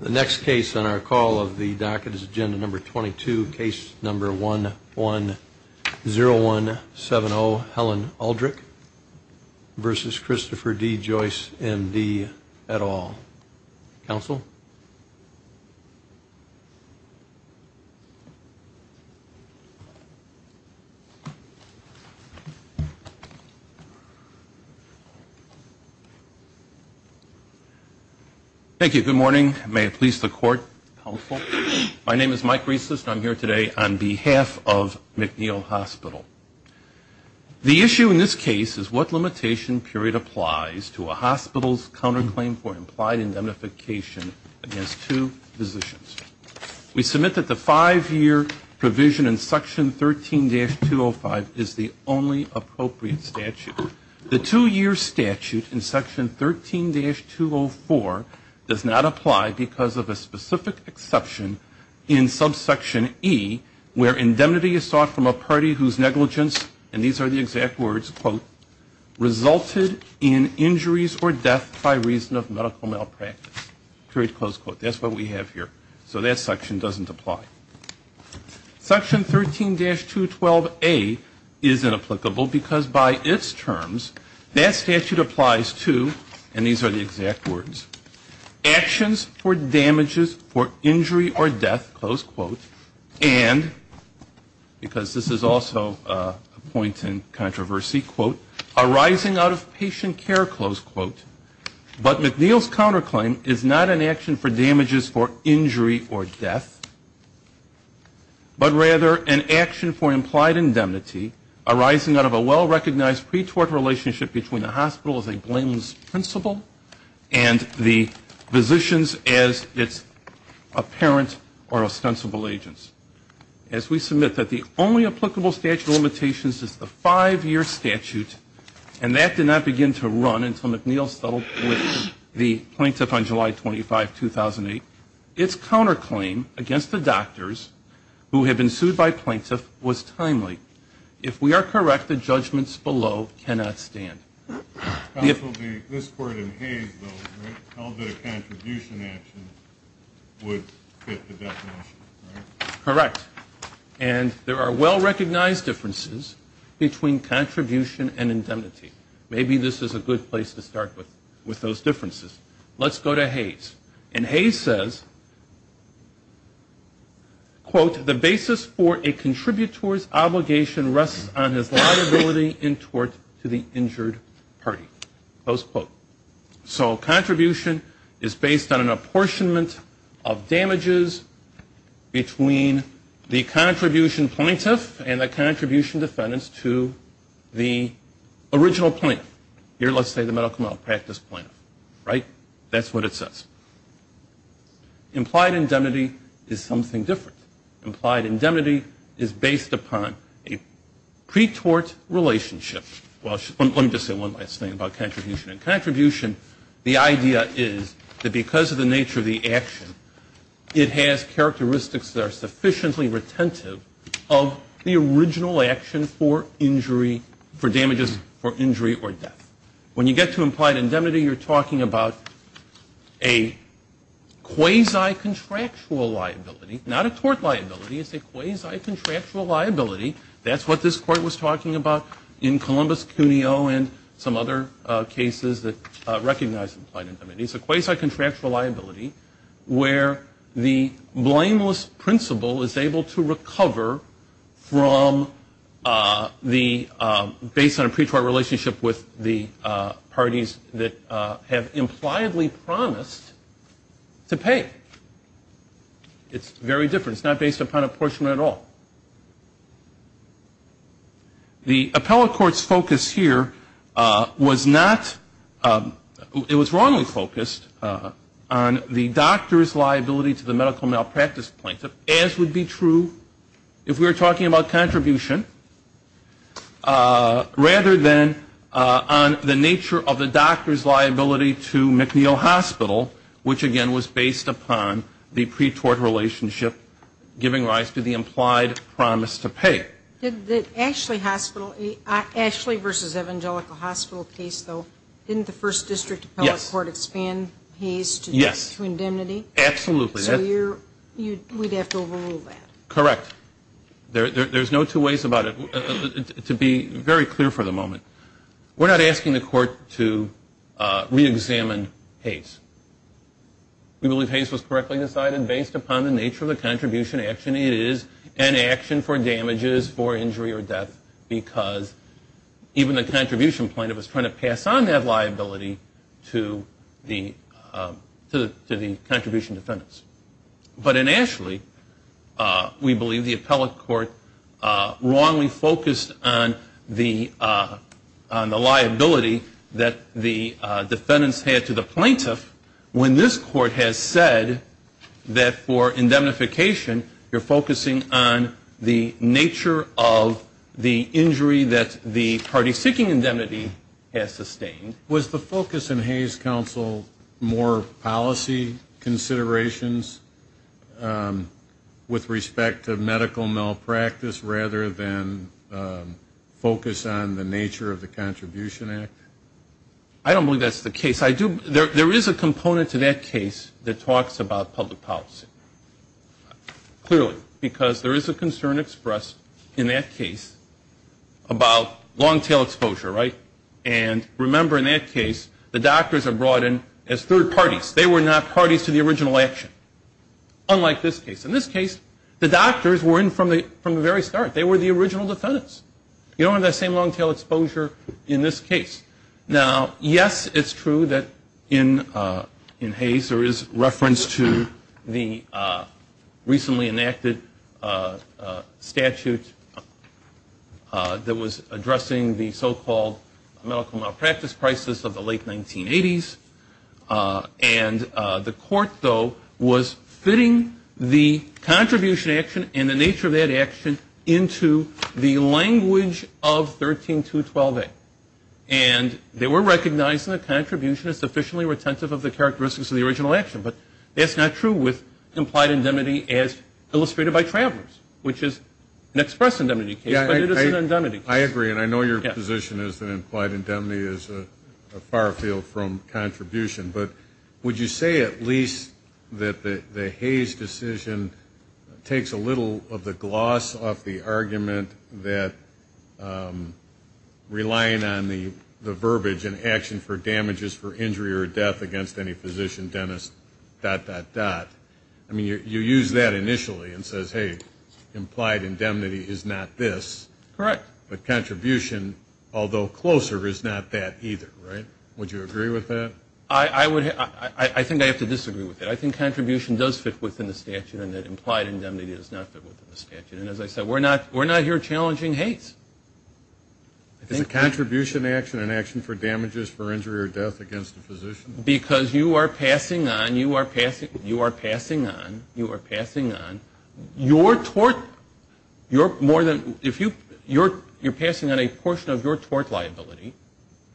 The next case on our call of the docket is agenda number 22, case number 110170 Helen Uldrych v. Christopher D. Joyce, MD, et al. Counsel? Thank you. Good morning. May it please the court, counsel? My name is Mike Reisler and I'm here today on behalf of McNeil Hospital. The issue in this case is what limitation period applies to a hospital's counterclaim for implied indemnification against two physicians. We submit that the five-year provision in does not apply because of a specific exception in subsection E where indemnity is sought from a party whose negligence, and these are the exact words, quote, resulted in injuries or death by reason of medical malpractice, period, close quote. That's what we have here. So that section doesn't apply. Section 13-212A is inapplicable because by its terms that statute applies to, and these are the exact words, actions for damages for injury or death, close quote, and because this is also a point in controversy, quote, arising out of patient care, close quote, but McNeil's counterclaim is not an action for damages for injury or death, but rather an action for implied indemnity arising out of a well-recognized pretort relationship between the hospital as a blameless principal and the physicians as its apparent or ostensible agents. As we submit that the only applicable statute of limitations is the five-year statute, and that did not begin to run until McNeil settled with the plaintiff on July 25, 2008, its counterclaim against the doctors who had been sued by plaintiff was timely. If we are correct, the judgments below cannot stand. Correct. And there are well-recognized differences between contribution and indemnity. Maybe this is a good place to start with those differences. Let's go to Hayes. And Hayes says, quote, the basis for a contributor's obligation rests on his liability in tort to the injured party, close quote. So contribution is based on an apportionment of damages between the contribution plaintiff and the contribution defendant to the original plaintiff. Here, let's say the medical malpractice plaintiff, right? That's what it says. Implied indemnity is something different. Implied indemnity is based upon a pre-tort relationship. Well, let me just say one last thing about contribution. In contribution, the idea is that because of the nature of the action, it has characteristics that are sufficiently retentive of the original action for injury, for damages for injury or death. When you get to implied indemnity, you're talking about a quasi-contractual liability, not a tort liability. It's a quasi-contractual liability. That's what this Court was talking about in Columbus, Cuneo and some other cases that recognize implied indemnity. It's a quasi-contractual liability where the blameless principle is able to recover from the, based on a pre-tort relationship with the parties that have impliedly promised to pay. It's very different. It's not based upon apportionment at all. The appellate court's focus here was not, it was wrongly focused on the doctor's liability to the medical malpractice plaintiff, as would be true if we were talking about contribution, rather than on the nature of the doctor's liability to McNeil Hospital, which again was based upon the pre-tort relationship giving rise to the implied promise to pay. Ashley v. Evangelical Hospital case, though, didn't the first district appellate court expand pays to indemnity? Yes. Absolutely. So we'd have to overrule that. Correct. There's no two ways about it. To be very clear for the moment, we're not asking the court to re-examine Hayes. We believe Hayes was correctly decided based upon the nature of the contribution action. It is an action for damages for injury or death because even the contribution plaintiff is trying to pass on that liability to the contribution defendants. But in Ashley, we believe the appellate court wrongly focused on the liability that the defendants had to the plaintiff when this court has said that for indemnification you're focusing on the nature of the injury that the party seeking indemnity has sustained. Was the focus in Hayes Counsel more policy considerations with respect to medical malpractice rather than focus on the nature of the contribution act? I don't believe that's the case. There is a component to that case that talks about public policy, clearly, because there is a concern expressed in that case about long tail exposure, right? And remember in that case, the doctors are brought in as third parties. They were not parties to the original action, unlike this case. In this case, the doctors were in from the very start. They were the original defendants. You don't have that same long tail exposure in this case. Now, yes, it's true that in Hayes there is reference to the recently enacted statute that was addressing the long tail exposure and the so-called medical malpractice crisis of the late 1980s. And the court, though, was fitting the contribution action and the nature of that action into the language of 13212A. And they were recognizing the contribution as sufficiently retentive of the characteristics of the original action. But that's not true with implied indemnity as illustrated by Travers, which is an express indemnity case, but it is an indemnity case. I agree. And I know your position is that implied indemnity is a far field from contribution. But would you say at least that the Hayes decision takes a little of the gloss off the argument that relying on the verbiage in action for damages for injury or death against any physician, dentist, dot, dot, dot. I mean, you use that initially and say, hey, implied contribution, although closer, is not that either, right? Would you agree with that? I would. I think I have to disagree with that. I think contribution does fit within the statute and that implied indemnity does not fit within the statute. And as I said, we're not here challenging Hayes. Is the contribution action an action for damages for injury or death against a physician? Because you are passing on, you are passing on, you are passing on, your tort, your more than, if you, you're passing on a portion of your tort liability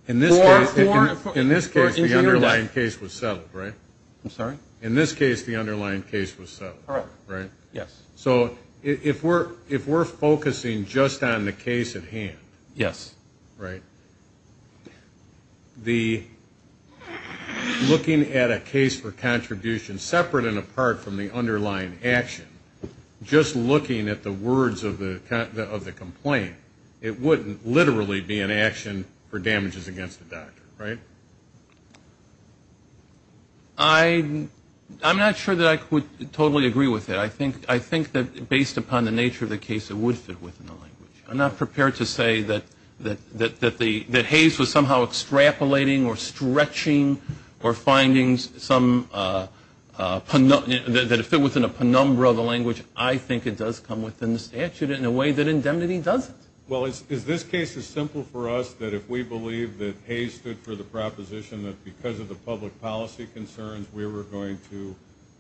for injury or death. In this case, the underlying case was settled, right? I'm sorry? In this case, the underlying case was settled, right? Yes. So if we're focusing just on the case at hand, right, the looking at a case for contribution separate and apart from the underlying action, just looking at the words of the complaint, it wouldn't literally be an action for damages against the doctor, right? I'm not sure that I would totally agree with that. I think that based upon the nature of the case, it would fit within the language. I'm not prepared to say that Hayes was somehow extrapolating or stretching or finding some, that it fit within a penumbra of the language. I think it does come within the statute in a way that indemnity doesn't. Well, is this case as simple for us that if we believe that Hayes stood for the proposition that because of the public policy concerns, we were going to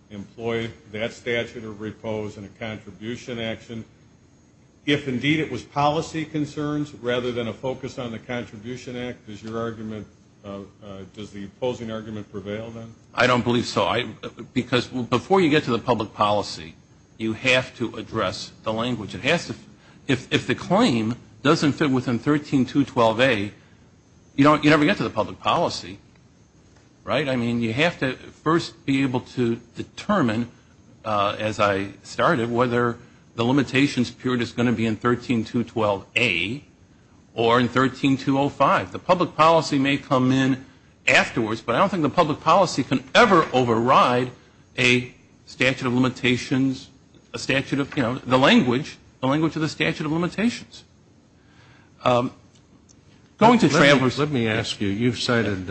employ that statute of repose in a contribution action, if indeed it was policy concerns rather than a focus on the argument, does the opposing argument prevail then? I don't believe so. Because before you get to the public policy, you have to address the language. It has to, if the claim doesn't fit within 13212A, you never get to the public policy, right? I mean, you have to first be able to determine, as I started, whether the policy may come in afterwards. But I don't think the public policy can ever override a statute of limitations, a statute of, you know, the language, the language of the statute of limitations. Going to travelers. Let me ask you, you've cited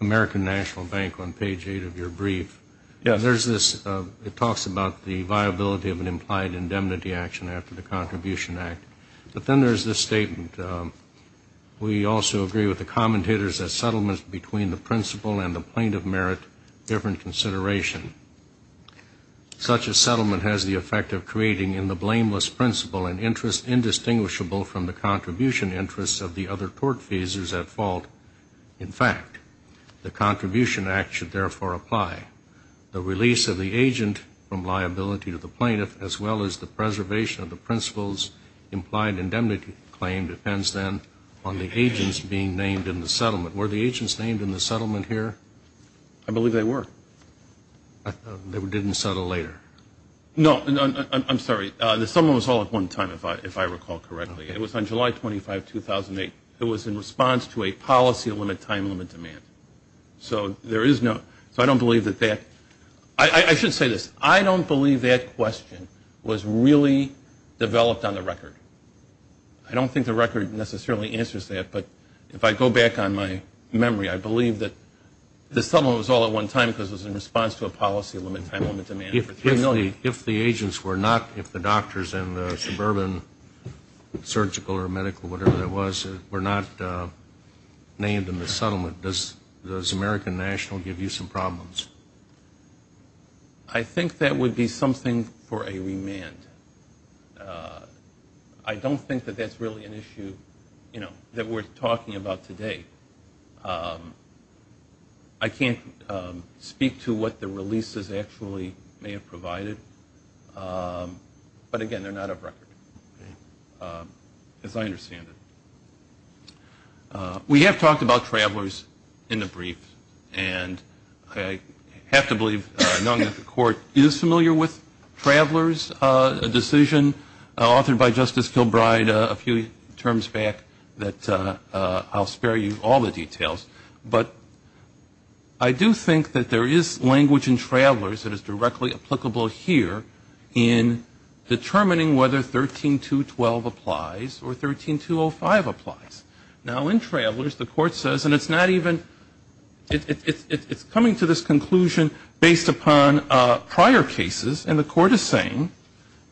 American National Bank on page 8 of your brief. Yes. And there's this, it talks about the viability of an implied indemnity action after the Contribution Act. But then there's this statement. We also agree with the commentators that settlements between the principal and the plaintiff merit different consideration. Such a settlement has the effect of creating in the blameless principal an interest indistinguishable from the contribution interests of the other tortfeasors at fault. In fact, the Contribution Act should therefore apply. The release of the agent from liability to the plaintiff, as well as the preservation of the principal's implied indemnity claim depends then on the agents being named in the settlement. Were the agents named in the settlement here? I believe they were. They didn't settle later? No. I'm sorry. The settlement was held at one time, if I recall correctly. It was on July 25, 2008. It was in response to a policy limit time limit demand. So there is no, so I don't believe that that, I should say this. I don't believe that question was really developed on the record. I don't think the record necessarily answers that. But if I go back on my memory, I believe that the settlement was all at one time because it was in response to a policy limit time limit demand. If the agents were not, if the doctors and the suburban surgical or medical, whatever it was, were not named in the settlement, does American National give you some problems? I think that would be something for a remand. I don't think that that's really an issue, you know, that we're talking about today. I can't speak to what the releases actually may have provided. But again, they're not a record, as I understand it. We have talked about travelers in the brief, and I have to believe none of the court is familiar with travelers, a decision authored by Justice Kilbride a few terms back that I'll spare you all the details. But I do think that there is language in travelers that is directly applicable here in determining whether 13.212 applies or 13.205 applies. Now in travelers, the court says, and it's not even, it's coming to this conclusion based upon prior cases, and the court is saying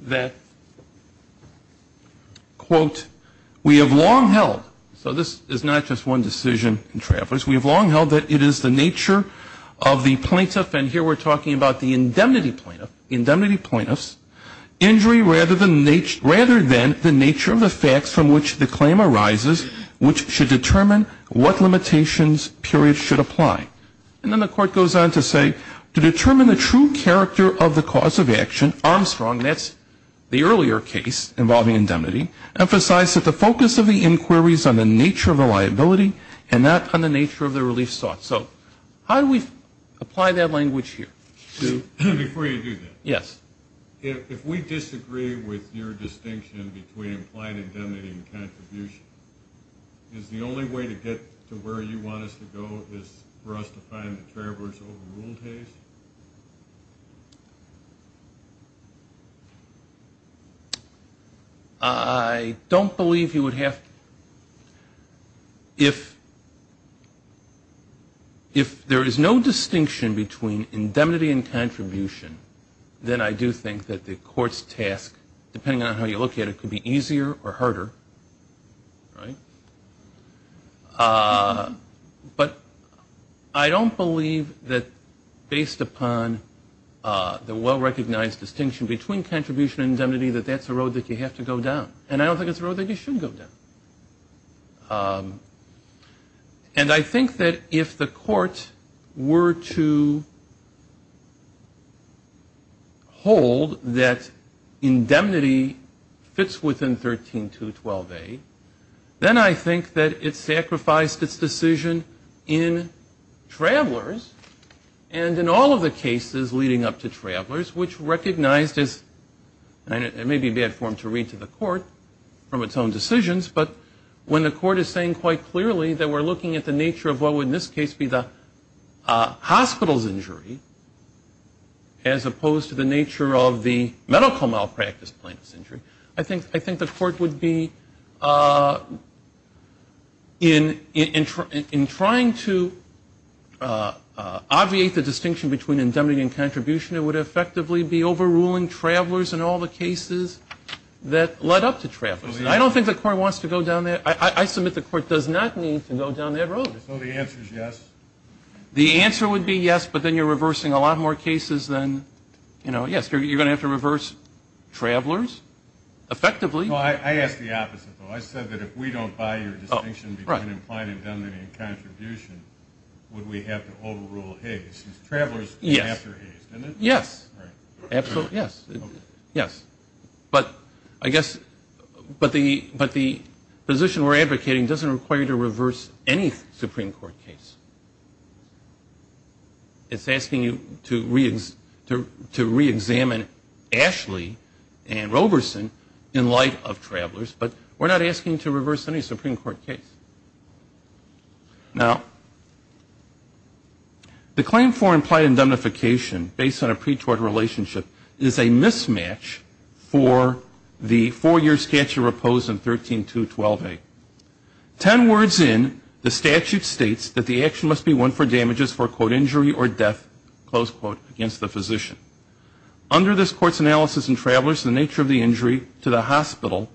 that, quote, we have long held, so this is not just one decision in travelers, we have long held that it is the nature of the plaintiff, and here we're talking about the indemnity plaintiff, indemnity plaintiffs, injury rather than the nature of the facts from which the claim arises which should determine what limitations period should apply. And then the court goes on to say, to determine the true character of the cause of action, Armstrong, that's the earlier case involving indemnity, emphasized that the focus of the inquiry is on the nature of the liability and not on the nature of the relief sought. So how do we apply that language here? Before you do that, if we disagree with your distinction between implied indemnity and contribution, is the only way to get to where you want us to go is for us to find the traveler's If there is no distinction between indemnity and contribution, then I do think that the court's task, depending on how you look at it, could be easier or harder, right? But I don't believe that based upon the well-recognized distinction between contribution and indemnity that that's a road that you have to go down, and I don't think it's a road that you should go down. And I think that if the court were to hold that indemnity fits within 13212A, then I think that it sacrificed its decision in travelers, and in all of the cases leading up to travelers, which recognized as, and it may be bad form to read to the court, from its own decisions, but when the court is saying quite clearly that we're looking at the nature of what would in this case be the hospital's injury, as opposed to the nature of the medical malpractice plaintiff's injury, I think the court would be, in trying to obviate the distinction between indemnity and contribution, it would effectively be overruling travelers in all the cases that led up to travelers. And I don't think the court wants to go down that, I submit the court does not need to go down that road. So the answer is yes? The answer would be yes, but then you're reversing a lot more cases than, you know, yes, you're going to have to reverse travelers, effectively. No, I asked the opposite, though. I said that if we don't buy your distinction between implying indemnity and contribution, would we have to overrule Hays? Because travelers came after Hays, didn't it? Yes. Right. Absolutely, yes. Yes. But I guess, but the position we're advocating doesn't require you to reverse any Supreme Court case. It's asking you to reexamine Ashley and Roberson in light of travelers, but we're not asking you to reverse any Supreme Court case. Now, the claim for implied indemnification, based on a pre-tort relationship, is a mismatch for the four-year statute proposed in 13.2.12a. Ten words in, the statute states that the action must be one for damages for, quote, injury or death, close quote, against the physician. Under this court's analysis in travelers, the nature of the injury to the hospital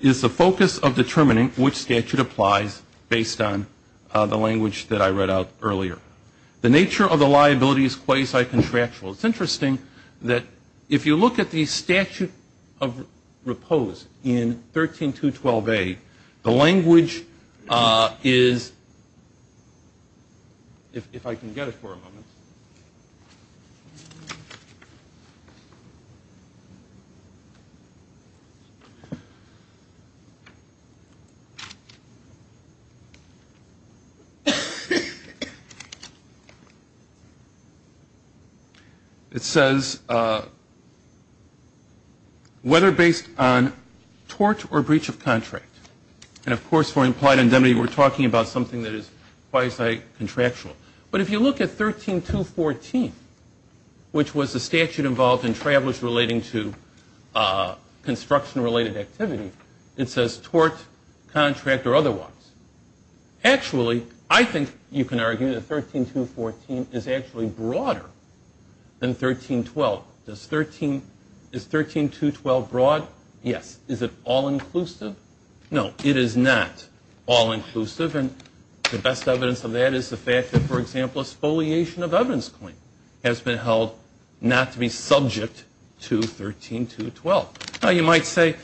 is the focus of determining which statute applies to which person. Otherwise, based on the language that I read out earlier, the nature of the liability is quasi-contractual. It's interesting that if you look at the statute of repose in 13.2.12a, the language is, if I can get it for a moment, it says, whether based on tort or breach of contract. And, of course, for implied indemnity, we're talking about something that is quasi-contractual. But if you look at 13.2.14, which was the statute involved in travelers relating to construction-related activity, it says tort, contract, or otherwise. Actually, I think you can argue that 13.2.14 is actually broader than 13.2.12. Is 13.2.12 broad? Yes. Is it all-inclusive? No, it is not all-inclusive. And the best evidence of that is the fact that, for example, a spoliation of evidence claim has been held not to be subject to 13.2.12. Now, you might say,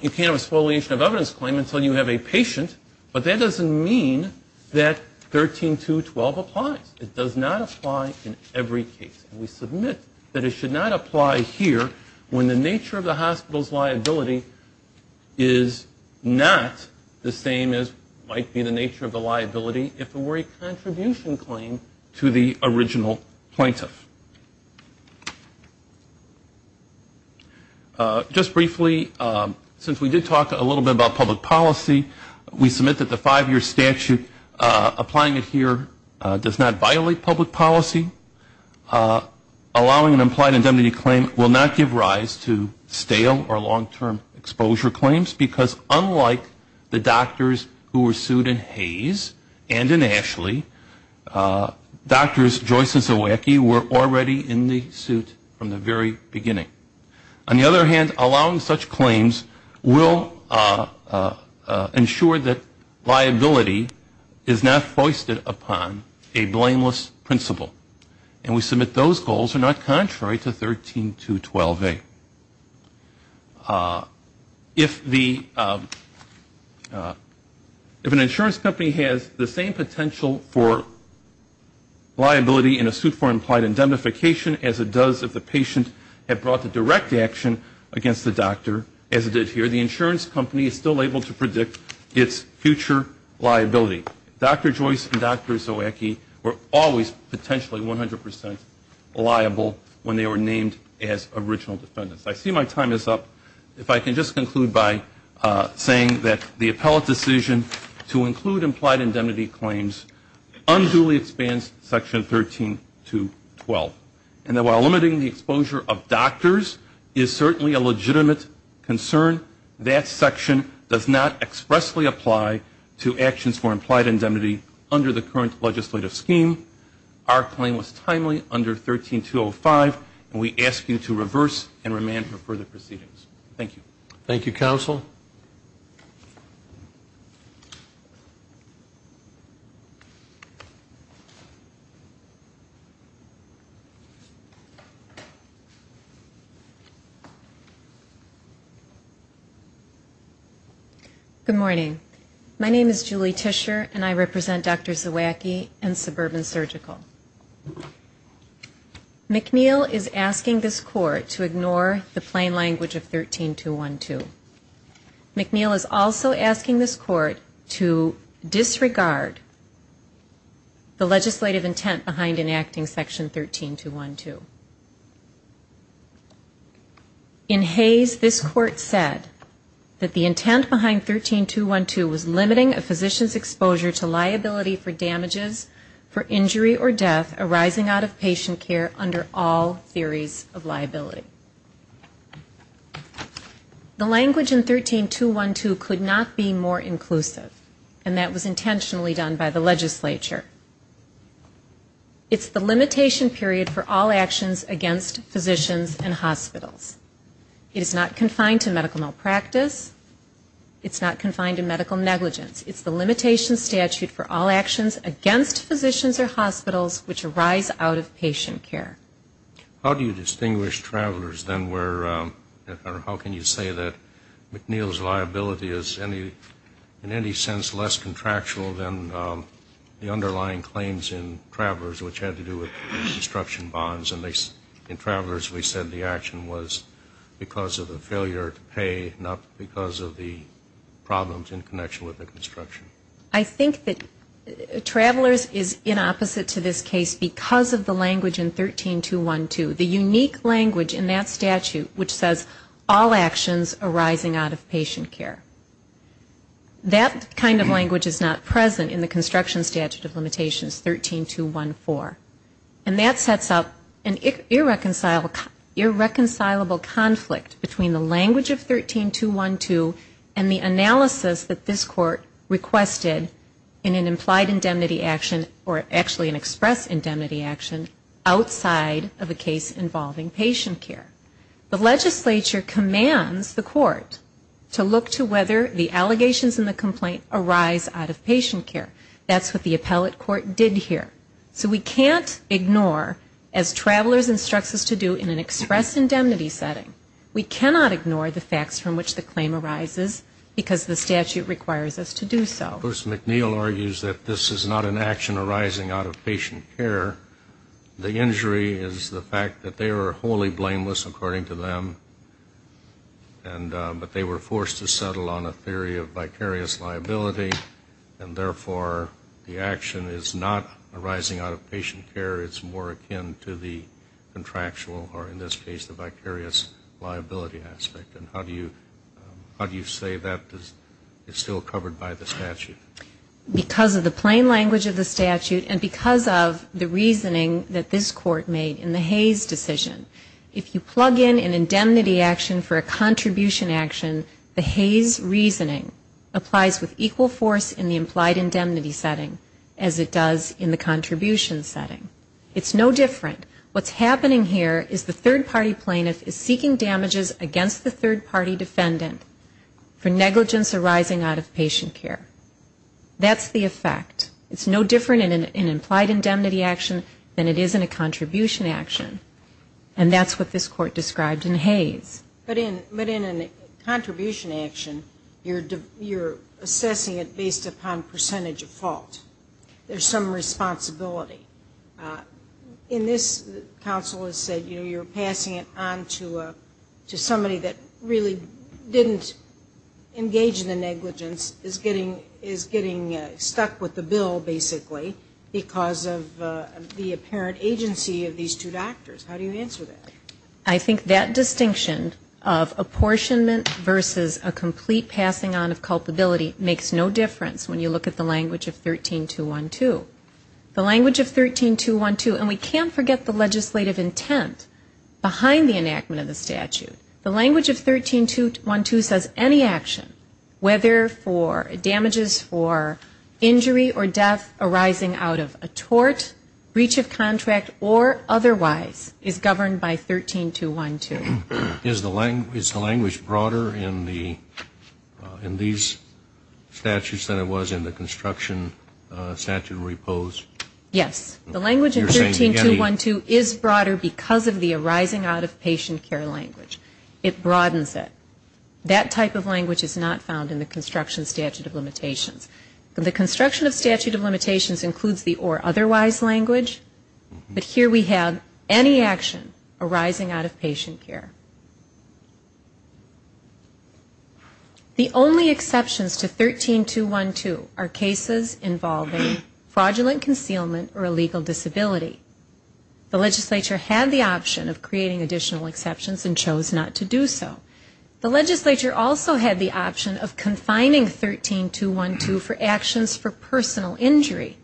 you can't have a spoliation of evidence claim until you have a patient. But that doesn't mean that 13.2.12 applies. It does not apply in every case. And we submit that it should not apply here when the nature of the hospital's liability is not the same as might be the nature of the liability if it were a contribution claim to the original plaintiff. Just briefly, since we did talk a little bit about public policy, we submit that the five-year allowing an implied indemnity claim will not give rise to stale or long-term exposure claims because unlike the doctors who were sued in Hayes and in Ashley, Doctors Joyce and Zawacki were already in the suit from the very beginning. On the other hand, allowing such claims will ensure that liability is not foisted upon a blameless principal. And we submit those goals are not contrary to 13.2.12a. If an insurance company has the same potential for liability in a suit for implied indemnification as it does if the patient had brought the direct action against the doctor as it did here, the insurance company is still able to predict its future liability. Doctors Joyce and Zawacki were always potentially 100% liable when they were named as original defendants. I see my time is up. If I can just conclude by saying that the appellate decision to include implied indemnity claims unduly expands Section 13.2.12. And while limiting the exposure of doctors is certainly a legitimate concern, that section does not expressly apply to actions for implied indemnity under the current legislative scheme. Our claim was timely under 13.2.05, and we ask you to reverse and remand for further proceedings. Thank you. Thank you, Counsel. Good morning. My name is Julie Tischer, and I represent Dr. Zawacki and Suburban Surgical. McNeil is asking this Court to ignore the plain language of 13.2.12. McNeil is also asking this Court to disregard the legislative intent behind enacting Section 13.2.12. In Hayes, this Court said that the intent behind 13.2.12 was limiting a physician's exposure to liability for damages for injury or death arising out of patient care under all theories of liability. The language in 13.2.12 could not be more inclusive, and that was intentionally done by the legislature. It's the limitation period for all actions against physicians and hospitals. It is not confined to medical malpractice. It's not confined to medical negligence. It's the limitation statute for all actions against physicians or hospitals which arise out of patient care. How do you distinguish travelers than where, or how can you say that McNeil's liability is in any sense less contractual than the underlying claims in travelers, which had to do with construction bonds? And in travelers, we said the action was because of a failure to construct because of the problems in connection with the construction. I think that travelers is in opposite to this case because of the language in 13.2.12, the unique language in that statute which says all actions arising out of patient care. That kind of language is not present in the construction statute of limitations, 13.2.14. And that sets up an irreconcilable conflict between the language of 13.2.12 and the analysis that this court requested in an implied indemnity action, or actually an express indemnity action outside of a case involving patient care. The legislature commands the court to look to whether the allegations in the complaint arise out of patient care. That's what the statute requires us to do. So we can't ignore, as travelers instructs us to do in an express indemnity setting, we cannot ignore the facts from which the claim arises because the statute requires us to do so. Of course, McNeil argues that this is not an action arising out of patient care. The injury is the fact that they were wholly blameless, according to them, but they were forced to settle on a theory of vicarious liability, and therefore the action is not arising out of patient care. It's more akin to the contractual, or in this case the vicarious liability aspect. And how do you say that is still covered by the statute? Because of the plain language of the statute and because of the reasoning that this court made in the Hayes decision. If you plug in the claim in indemnity action for a contribution action, the Hayes reasoning applies with equal force in the implied indemnity setting as it does in the contribution setting. It's no different. What's happening here is the third party plaintiff is seeking damages against the third party defendant for negligence arising out of patient care. That's the effect. It's no different in an implied indemnity action than it is in a contribution action. And that's what this court described in Hayes. But in a contribution action, you're assessing it based upon percentage of fault. There's some responsibility. In this, counsel has said, you're passing it on to somebody that really didn't engage in the negligence, is getting stuck with the bill, basically, because of the apparent agency of these two people. And you're not going to do anything about it. I think that distinction of apportionment versus a complete passing on of culpability makes no difference when you look at the language of 13212. The language of 13212, and we can't forget the legislative intent behind the enactment of the statute. The language of 13212 says any action, whether for damages for injury or death arising out of a tort, breach of contract, or otherwise, is governed by the statute. And that's not true. It's not in the statute, but it's in the statute. And you can't change it. And you can't replace a claim by 13212. Is the language broader in these statutes than it was in the construction statute repose? Yes. The language of 13212 is broader because of the arising out of patient care language. It broadens it. That type of language is not found in the construction statute of limitations. The construction of statute of limitations includes the or otherwise language, but here we have any action arising out of a tort, breach of contract, or otherwise, is governed by the statute. And that's not true. The only exceptions to 13212 are cases involving fraudulent concealment or illegal disability. The legislature had the option of creating additional exceptions and chose not to do so. The legislature also had the option of confining 13212 for actions for personal injury.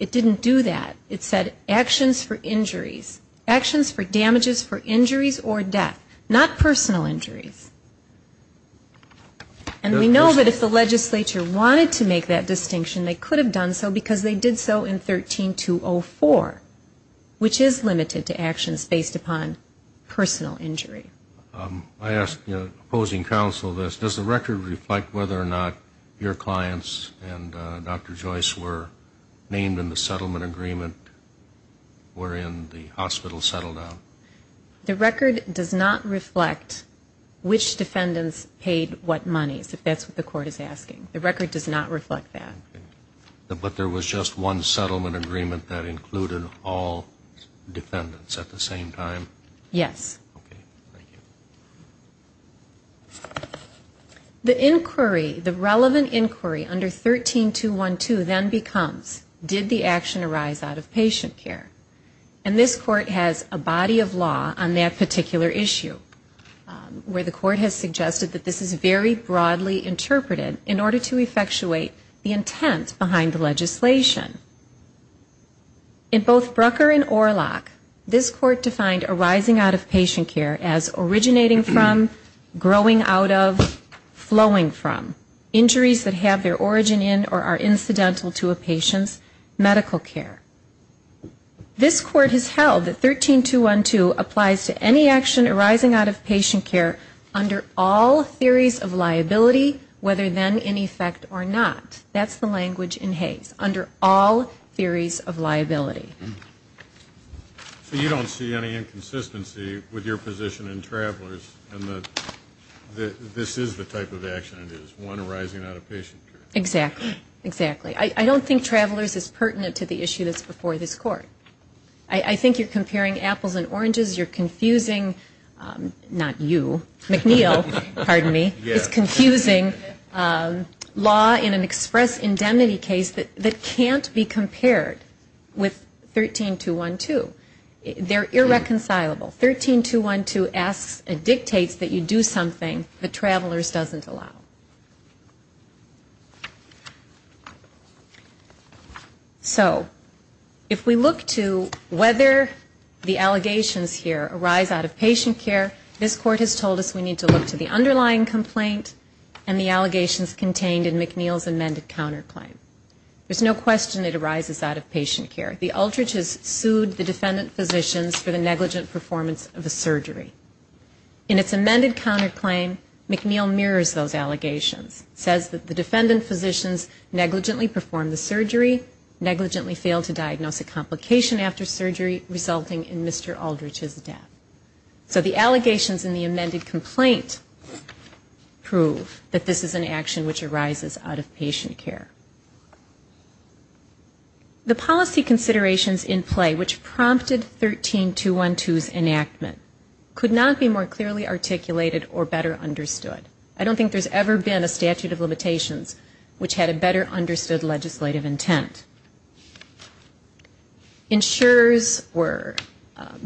It didn't do that. It said actions for injuries, actions for damages for injuries, actions for damages for personal injuries. It said actions for injuries or death, not personal injuries. And we know that if the legislature wanted to make that distinction, they could have done so because they did so in 13204, which is limited to actions based upon personal injury. I ask opposing counsel this. Does the record reflect whether or not your clients and Dr. Joyce were named in the settlement agreement wherein the hospital settled on? The record does not reflect which defendants paid what monies, if that's what the court is asking. The record does not reflect that. But there was just one settlement agreement that included all defendants at the same time? Yes. Okay. Thank you. The inquiry, the relevant inquiry under 13212 then becomes did the action arise out of patient care? And this court has a body of law on that particular issue where the court has suggested that this is very broadly interpreted in order to effectuate the intent behind the legislation. In both Brucker and Orlock, this court defined arising out of patient care as originating from, growing out of, flowing from. Injuries that have their origin in or are incidental to a patient's medical care. This court has held that 13212 applies to any action arising out of patient care under all theories of liability, whether then in effect or not. That's the language in Hays, under all theories of liability. So you don't see any inconsistency with your position in Travelers in that this is the type of action it is, one arising out of patient care? Exactly. Exactly. I don't think Travelers is pertinent to the issue that's before this court. I think you're comparing apples and oranges. You're confusing, not you, McNeil, pardon me, is confusing law in an express indemnity case that can't be compared with 13212. They're irreconcilable. 13212 asks and dictates that you do something that Travelers doesn't allow. So if we look to whether the allegations here arise out of patient care, this court has told us we need to look to the underlying complaint and the allegations contained in McNeil's amended counterclaim. There's no question it arises out of patient care. The Aldrich has sued the defendant physicians for the negligent performance of a surgery. In its amended counterclaim, McNeil mirrors those allegations. It says that the defendant physicians negligently performed the surgery, negligently failed to diagnose a complication after surgery resulting in Mr. Aldrich's death. So the allegations in the amended complaint prove that this is an action which arises out of patient care. The policy considerations in play which prompted 13212's enactment could not be more clearly articulated or better understood. I don't think there's ever been a statute of limitations which had a better understood legislative intent. Insurers were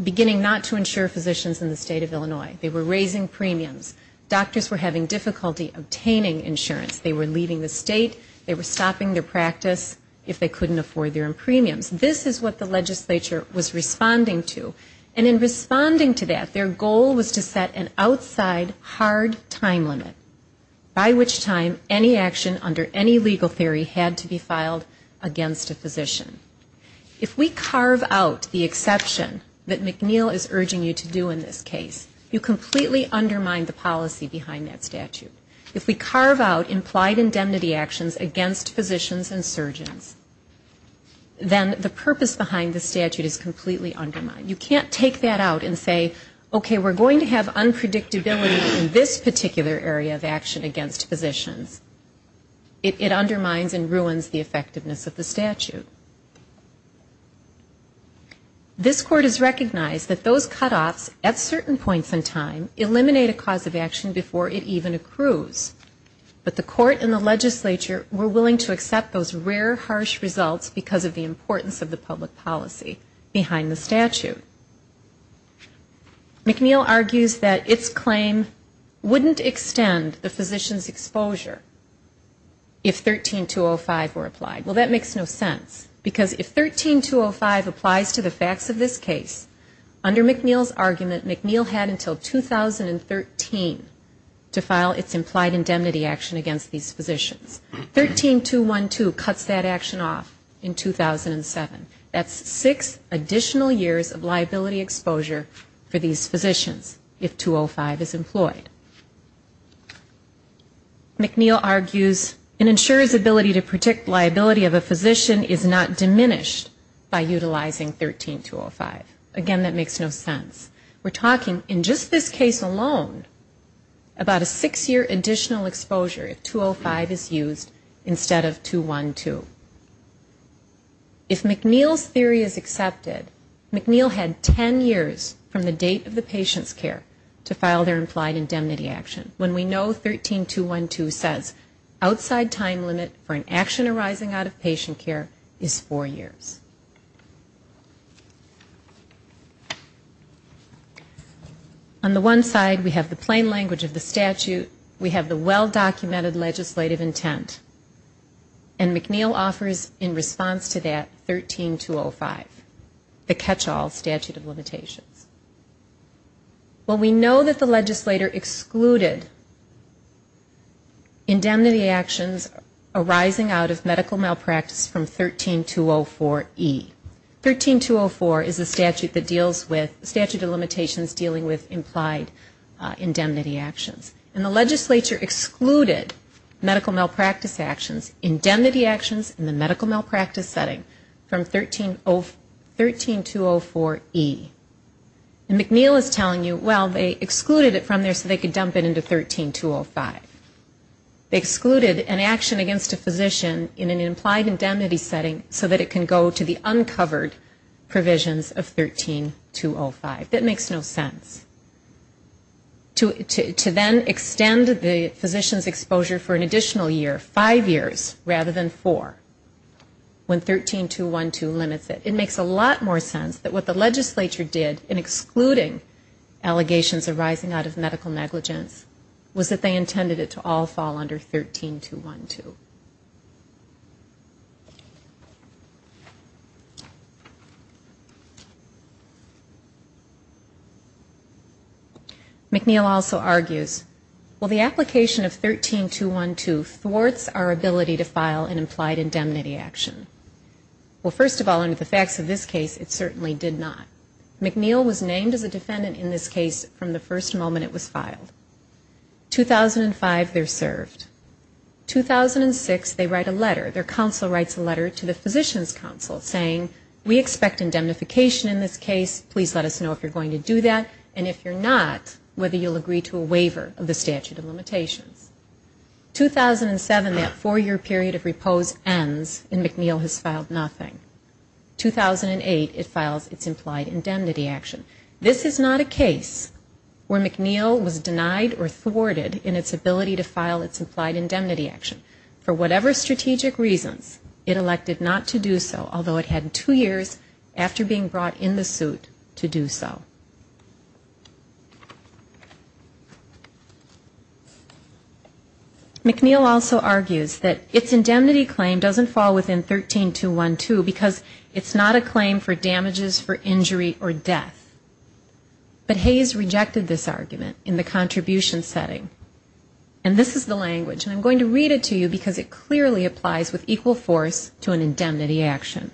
beginning not to insure physicians in the state of Illinois. They were raising premiums. Doctors were having difficulty obtaining insurance. They were leaving the state. They were stopping their practice if they couldn't afford their premiums. This is what the legislature was responding to. And in responding to that, their goal was to set an outside hard time limit, by which time any action under any legal theory had to be filed against the court. If we carve out the exception that McNeil is urging you to do in this case, you completely undermine the policy behind that statute. If we carve out implied indemnity actions against physicians and surgeons, then the purpose behind the statute is completely undermined. You can't take that out and say, okay, we're going to have unpredictability in this particular area of action against physicians. It undermines and ruins the effectiveness of the statute. This court has recognized that those cutoffs, at certain points in time, eliminate a cause of action before it even accrues. But the court and the legislature were willing to accept those rare, harsh results because of the importance of the public policy behind the statute. McNeil argues that its claim wouldn't extend the physician's exposure if 13205 were applied. Well, that makes no sense. It would be a violation of the statute. Because if 13205 applies to the facts of this case, under McNeil's argument, McNeil had until 2013 to file its implied indemnity action against these physicians. 13212 cuts that action off in 2007. That's six additional years of liability exposure for these physicians, if 205 is employed. McNeil argues an insurer's ability to predict liability of a physician is not diminished by utilizing 13205. Again, that makes no sense. We're talking, in just this case alone, about a six year additional exposure if 205 is used instead of 212. If McNeil's theory is accepted, McNeil had 10 years from the date of the patient's care to file their implied indemnity action. When we know 13212 says outside time limit for an action arising out of patient care is four years. On the one side, we have the plain language of the statute. We have the well-documented legislative intent. And McNeil offers, in response to that, 13205, the catch-all statute of limitations. When we know that the legislator excluded indemnity actions arising out of medical malpractice from 13204E. 13204 is a statute of limitations dealing with implied indemnity actions. And the legislature excluded medical malpractice actions, indemnity actions in the medical malpractice setting, from 13204E. And McNeil is telling you, well, they excluded it from there so they could dump it into 13205. They excluded an action against a physician in an implied indemnity setting so that it can go to the uncovered provisions of 13205. That makes no sense. To then extend the physician's exposure for an additional year, five years, rather than four, when 13212 limits it. It makes a lot more sense that what the legislature did in excluding the medical malpractice actions from 13204E. And that's the way it should be. And here, McNeil went on and said, the legislation not excluding allegations arising out of medical negligence was that they intended it to all fall under 13212. McNeil also argues, well the application of 13212 thwarts our ability to file an implied indemnity action. Well, first of all, under the facts of this case it certainly did not. McNeil was named the applicant for the application of 13212. He was named as a defendant in this case from the first moment it was filed. In 2005, they are served. In 2006, they write a letter. Their counsel writes a letter to the physician's counsel saying, we expect indemnification in this case. Please let us know if you are going to do that and if you are not, whether you will agree to a waiver of the statute of limitations. In 2007, that four-year period of repose ends and McNeil has filed nothing. In 2008, it files its implied indemnity action. Do you This is not a case where McNeil was denied or thwarted in its ability to file its implied indemnity action. For whatever strategic reasons, it elected not to do so, although it had two years after being brought in the suit to do so. McNeil also argues that its indemnity claim doesn't fall within 13212 because it's not a claim for damages for injury or death. But Hayes rejected this argument in the contribution setting. And this is the language, and I'm going to read it to you because it clearly applies with equal force to an indemnity action.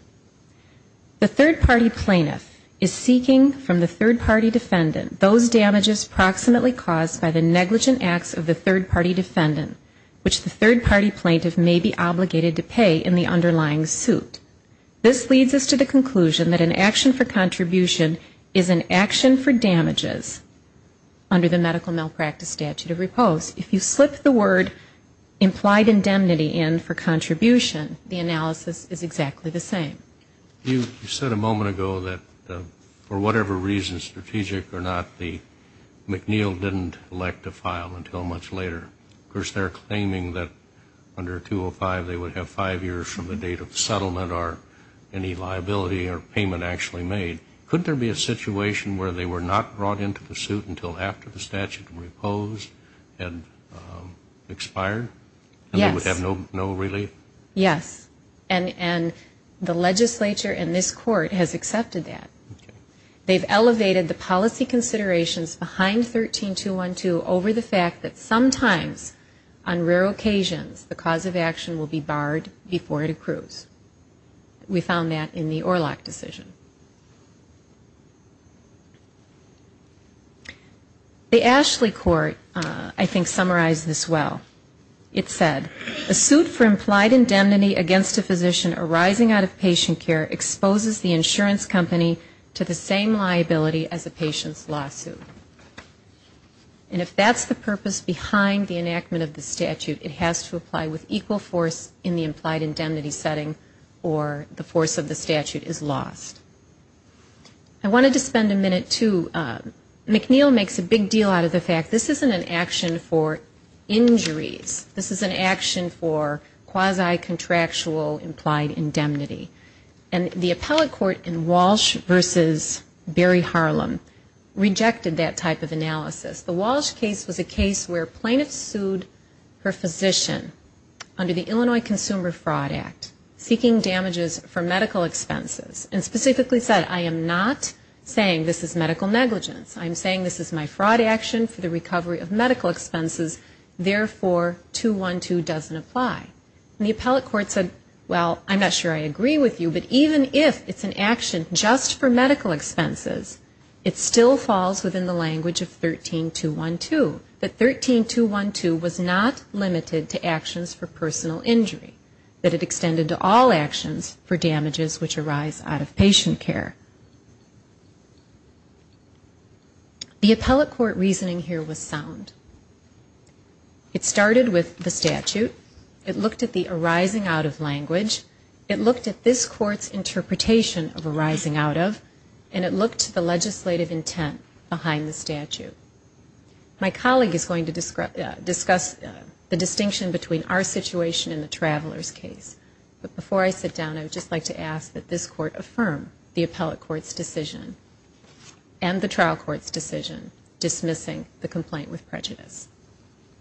The third-party plaintiff is seeking from the third-party defendant those damages proximately caused by the negligent acts of the third-party defendant, which the third-party plaintiff may be obligated to pay in the underlying suit. This leads us to the conclusion that an action for contribution is an indemnity action. An action for damages under the medical malpractice statute of repose, if you slip the word implied indemnity in for contribution, the analysis is exactly the same. You said a moment ago that for whatever reason, strategic or not, McNeil didn't elect to file until much later. Of course, they're claiming that under 205, they would have five years from the date of settlement or any liability or payment actually made. Couldn't there be a situation where they were not brought into the suit until after the statute reposed and expired and they would have no relief? Yes. And the legislature in this court has accepted that. They've elevated the policy considerations behind 13212 over the fact that sometimes, on rare occasions, the cause of action will be barred before it accrues. We found that in the Orlock decision. The Ashley court, I think, summarized this well. It said, a suit for implied indemnity against a physician arising out of patient care exposes the insurance company to the same liability as a patient's lawsuit. And if that's the purpose behind the enactment of the statute, it has to apply with equal force in the implied indemnity setting or the force of the statute is lost. I wanted to spend a minute, too. McNeil makes a big deal out of the fact this isn't an action for injuries. This is an action for quasi-contractual implied indemnity. And the appellate court in Walsh v. Berry Harlem rejected that type of analysis. The Walsh case was a case where plaintiffs sued her physician under the Illinois Consumer Fraud Act, seeking damages for medical expenses. And specifically said, I am not saying this is medical negligence. I'm saying this is my fraud action for the recovery of medical expenses. Therefore, 212 doesn't apply. I agree with you, but even if it's an action just for medical expenses, it still falls within the language of 13212. That 13212 was not limited to actions for personal injury. That it extended to all actions for damages which arise out of patient care. The appellate court reasoning here was sound. It started with the statute. It looked at the arising out of language. It looked at this case court's interpretation of arising out of, and it looked to the legislative intent behind the statute. My colleague is going to discuss the distinction between our situation and the traveler's case. But before I sit down, I would just like to ask that this court affirm the appellate court's decision and the trial court's decision, dismissing the complaint with prejudice.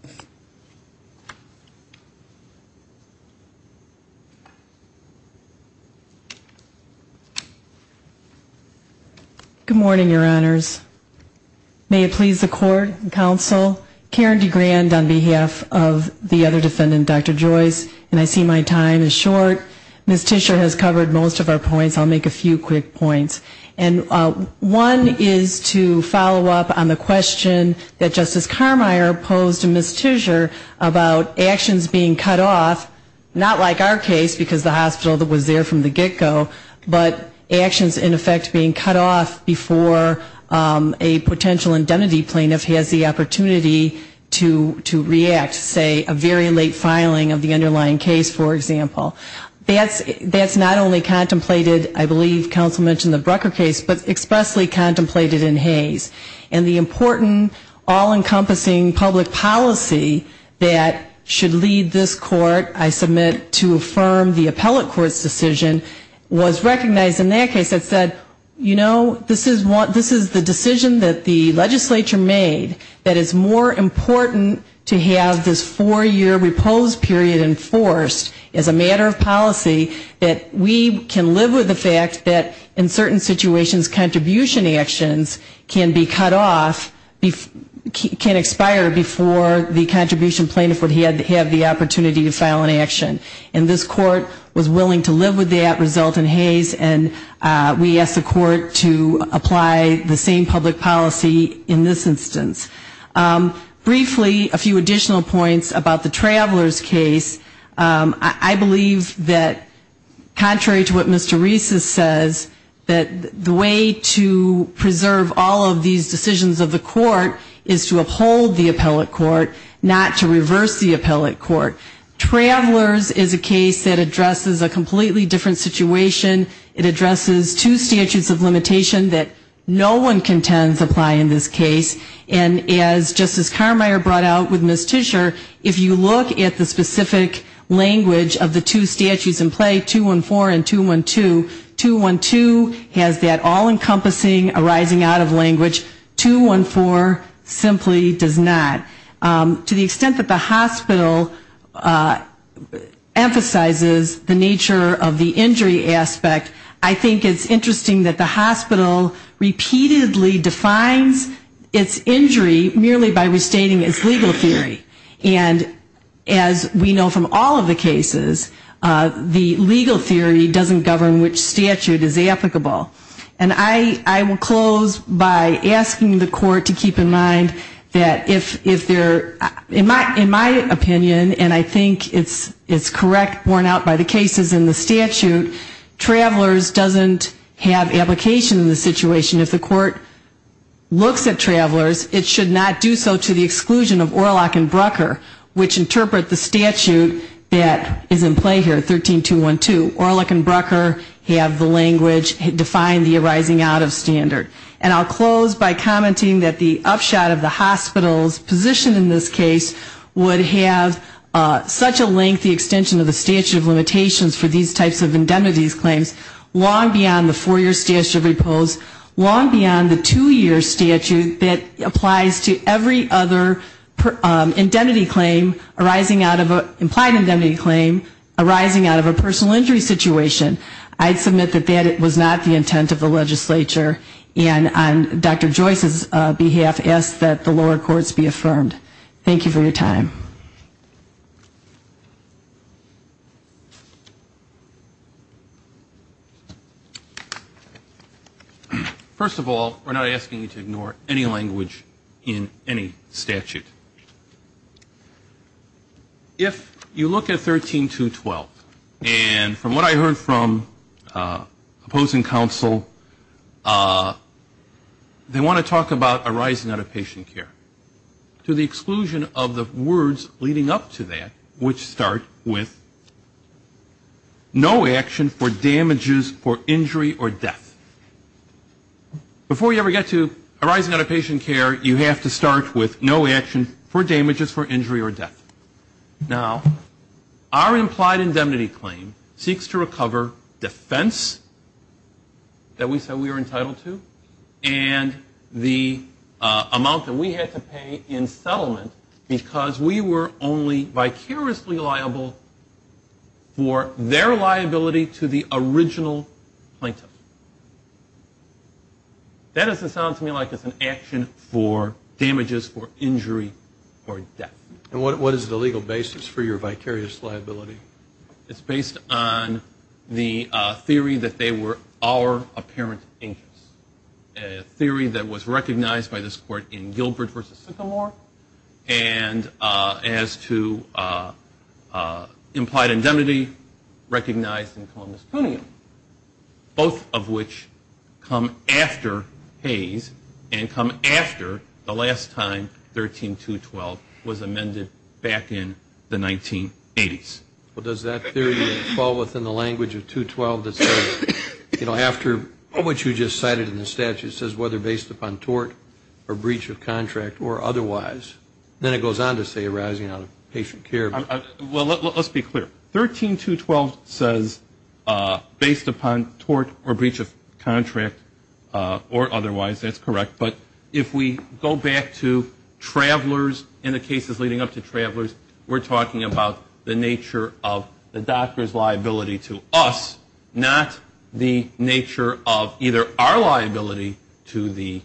Thank you. Good morning, your honors. May it please the court and counsel, Karen DeGrand on behalf of the other defendant, Dr. Joyce, and I see my time is short. Ms. Tischer has covered most of our points. I'll make a few quick points. And one is to follow up on the question that Justice Carmier posed to Ms. Tischer about actions being cut off, not like our case, because the case is in the get-go, but actions in effect being cut off before a potential identity plaintiff has the opportunity to react, say, a very late filing of the underlying case, for example. That's not only contemplated, I believe counsel mentioned the Brucker case, but expressly contemplated in Hayes. And the important, all-encompassing public policy that should lead this court, I submit, to affirm the appellate court's decision, was recognized in that case that said, you know, this is the decision that the legislature made that is more important to have this four-year reposed period enforced as a matter of policy, that we can live with the fact that in certain situations, contribution actions can be cut off, can expire before the contribution plaintiff would have the opportunity to file an action. And this court was willing to live with that result in Hayes, and we asked the court to apply the same public policy in this instance. Briefly, a few additional points about the Traveler's case. I believe that contrary to what Mr. Rees says, that the way to preserve all of these decisions of the court is to uphold the appellate court, not to enforce the appellate court's decision. The Traveler's case is a case that addresses a completely different situation. It addresses two statutes of limitation that no one contends apply in this case. And as Justice Carmeier brought out with Ms. Tischer, if you look at the specific language of the two statutes in play, 214 and 212, 212 has that all-encompassing arising out of language, 214 simply does not. To the extent that the hospital emphasizes the nature of the injury aspect, I think it's interesting that the hospital repeatedly defines its injury merely by restating its legal theory. And as we know from all of the cases, the legal theory doesn't govern which statute is applicable. And I will close by asking the court to keep in mind that if they're, in my opinion, and I think it's correct borne out by the cases in the statute, Traveler's doesn't have application in this situation. If the court looks at Traveler's, it should not do so to the exclusion of Orlock and Brucker, which interpret the statute that is in play here, 13212. Orlock and Brucker have the language that is applicable. Orlock and Brucker have the language that define the arising out of standard. And I'll close by commenting that the upshot of the hospital's position in this case would have such a lengthy extension of the statute of limitations for these types of indemnity claims, long beyond the four-year statute of repose, long beyond the two-year statute that applies to every other indemnity claim arising out of a, implied indemnity claim arising out of a personal injury situation. I'd submit that that was not the intent of the legislature. And on Dr. Joyce's behalf, ask that the lower courts be affirmed. Thank you for your time. First of all, we're not asking you to ignore any language in any statute. If you look at 13212, and from what I heard from opposing counsel, they want to talk about arising out of patient care. To the exclusion of the words leading up to that, which start with, no action for damages for injury or death. Before you ever get to arising out of patient care, you have to start with no action for damages for injury or death. Now, our implied indemnity claim seeks to recover defense for damages for injury or death. Now, our implied indemnity claim seeks to recover defense for damages for injury or death. Now, our implied indemnity claim seeks to recover defense for damages for injury or death. And what is the legal basis for your vicarious liability? It's based on the theory that they were all entitled to the damages for injury or death, or apparent injuries. A theory that was recognized by this court in Gilbert v. Sycamore, and as to implied indemnity, recognized in Columbus Cuneum. Both of which come after Hayes, and come after the last time 13212 was amended back in the 1980s. Well, does that theory fall within the language of 212 that says, you know, after what you just cited in the statute, it says whether based upon tort or breach of contract or otherwise. Then it goes on to say arising out of patient care. Well, let's be clear. 13212 says based upon tort or breach of contract or otherwise. That's correct. But if we go back to travelers and the cases leading up to travelers, we're talking about the nature of the doctor's liability to us, not the nature of either our liability to the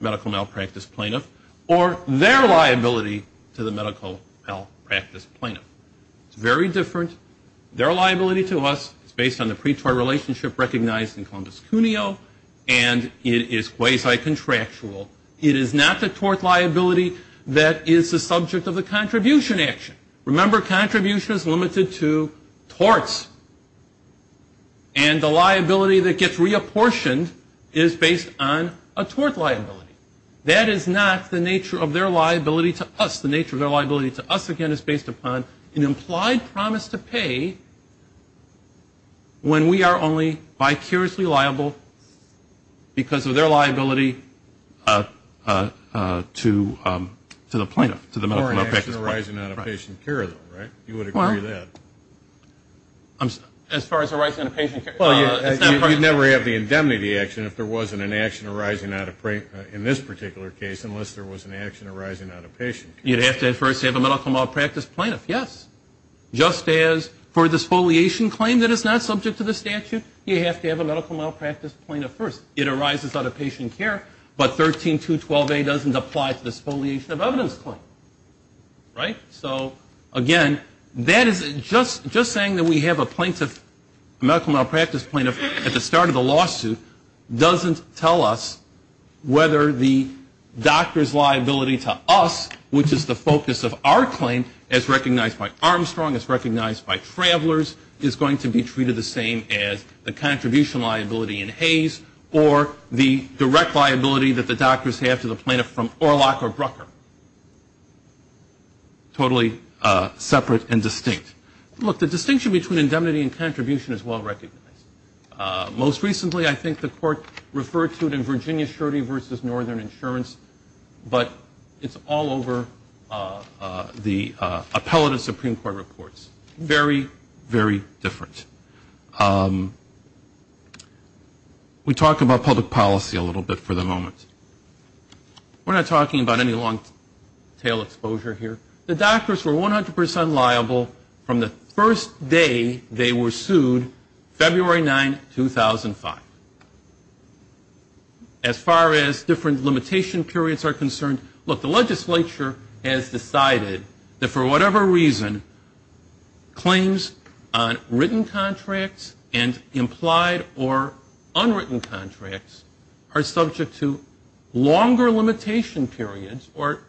medical malpractice plaintiff, or their liability to the medical malpractice plaintiff. It's very different. Their liability to us is based on the pretort relationship recognized in Columbus Cuneo, and it is quasi-contractual. It is not the tort liability that is the subject of the contribution action. Remember, contribution is limited to torts. And the liability that gets reapportioned is based on a tort liability. That is not the nature of their liability to us. The nature of their liability to us, again, is based upon an implied promise to pay when we are only vicariously liable because of their liability to us. And that is not to the plaintiff, to the medical malpractice plaintiff. Or an action arising out of patient care, though, right? You would agree with that? As far as arising out of patient care. Well, you'd never have the indemnity action if there wasn't an action arising out of, in this particular case, unless there was an action arising out of patient care. You'd have to at first have a medical malpractice plaintiff, yes. Just as for a disfoliation claim that is not subject to the statute, you have to have a medical malpractice plaintiff first. It arises out of patient care, but 13212A doesn't apply to the disfoliation of evidence claim, right? So, again, that is just saying that we have a medical malpractice plaintiff at the start of the lawsuit doesn't tell us whether the doctor's liability in Armstrong is recognized by travelers is going to be treated the same as the contribution liability in Hayes or the direct liability that the doctors have to the plaintiff from Orlock or Brucker. Totally separate and distinct. Look, the distinction between indemnity and contribution is well recognized. Most recently, I think the court referred to it in Virginia vs. Northern Insurance, but it's all over the appellate of Supreme Court. Very, very different. We talk about public policy a little bit for the moment. We're not talking about any long-tail exposure here. The doctors were 100% liable from the first day they were sued, February 9, 2005. As far as different limitation periods are concerned, look, the legislature has decided that for whatever reason, claims on written contracts and implied or unwritten contracts are subject to longer limitation periods or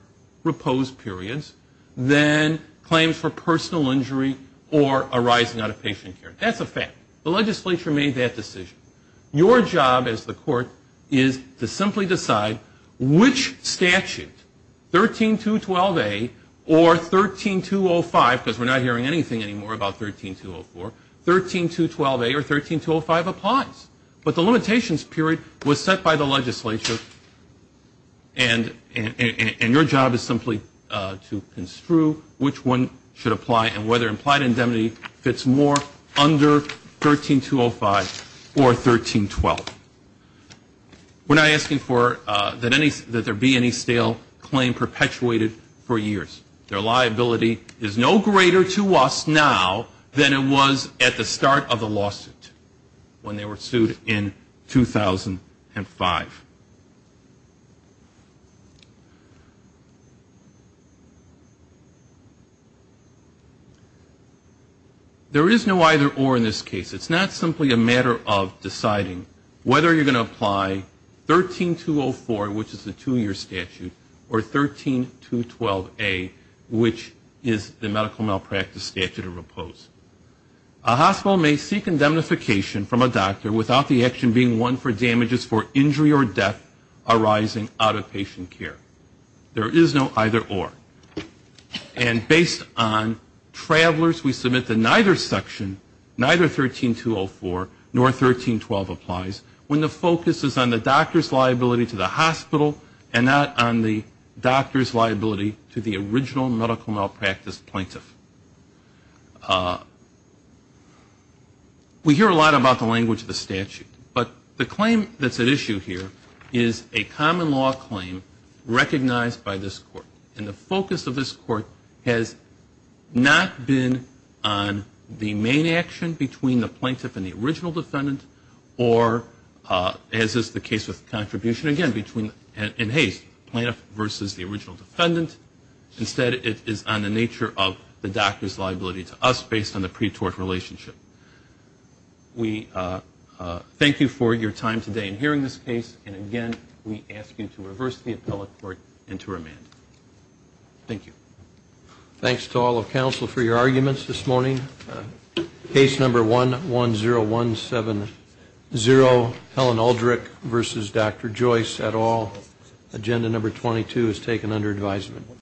reposed periods than claims for personal injury or arising out of patient care. That's a fact. The legislature made that decision. Your job as the court is to simply decide which statute, 13212A or 13205, because we're not hearing anything anymore about 13204, 13212A or 13205 applies. But the limitations period was set by the legislature, and your job is simply to construe which one should apply and whether implied indemnity fits more under 13205 or 13204. We're not asking for that there be any stale claim perpetuated for years. Their liability is no greater to us now than it was at the start of the lawsuit when they were sued in 2005. There is no either or in this case. It's not simply a matter of deciding whether you're going to apply 13204, which is the two-year statute, or 13212A, which is the medical malpractice statute or reposed. A hospital may seek indemnification from a doctor without the action being one for damages for injury or repose. There is no either or. And based on travelers, we submit that neither section, neither 13204 nor 1312 applies when the focus is on the doctor's liability to the hospital and not on the doctor's liability to the original medical malpractice plaintiff. We hear a lot about the language of the statute, but the claim that's at issue here is a common law claim recognized by this court. And the focus of this court has not been on the main action between the plaintiff and the original defendant or, as is the case with contribution, again, between the plaintiff versus the original defendant. Instead, it is on the nature of the doctor's liability to us based on the pretort relationship. We thank you for your time today in hearing this case, and again, we ask you to reverse the appellate court and to remand. Thank you. Thanks to all of counsel for your arguments this morning. Case number 110170, Helen Aldrich versus Dr. Joyce et al. Agenda number 22 is taken under advisement.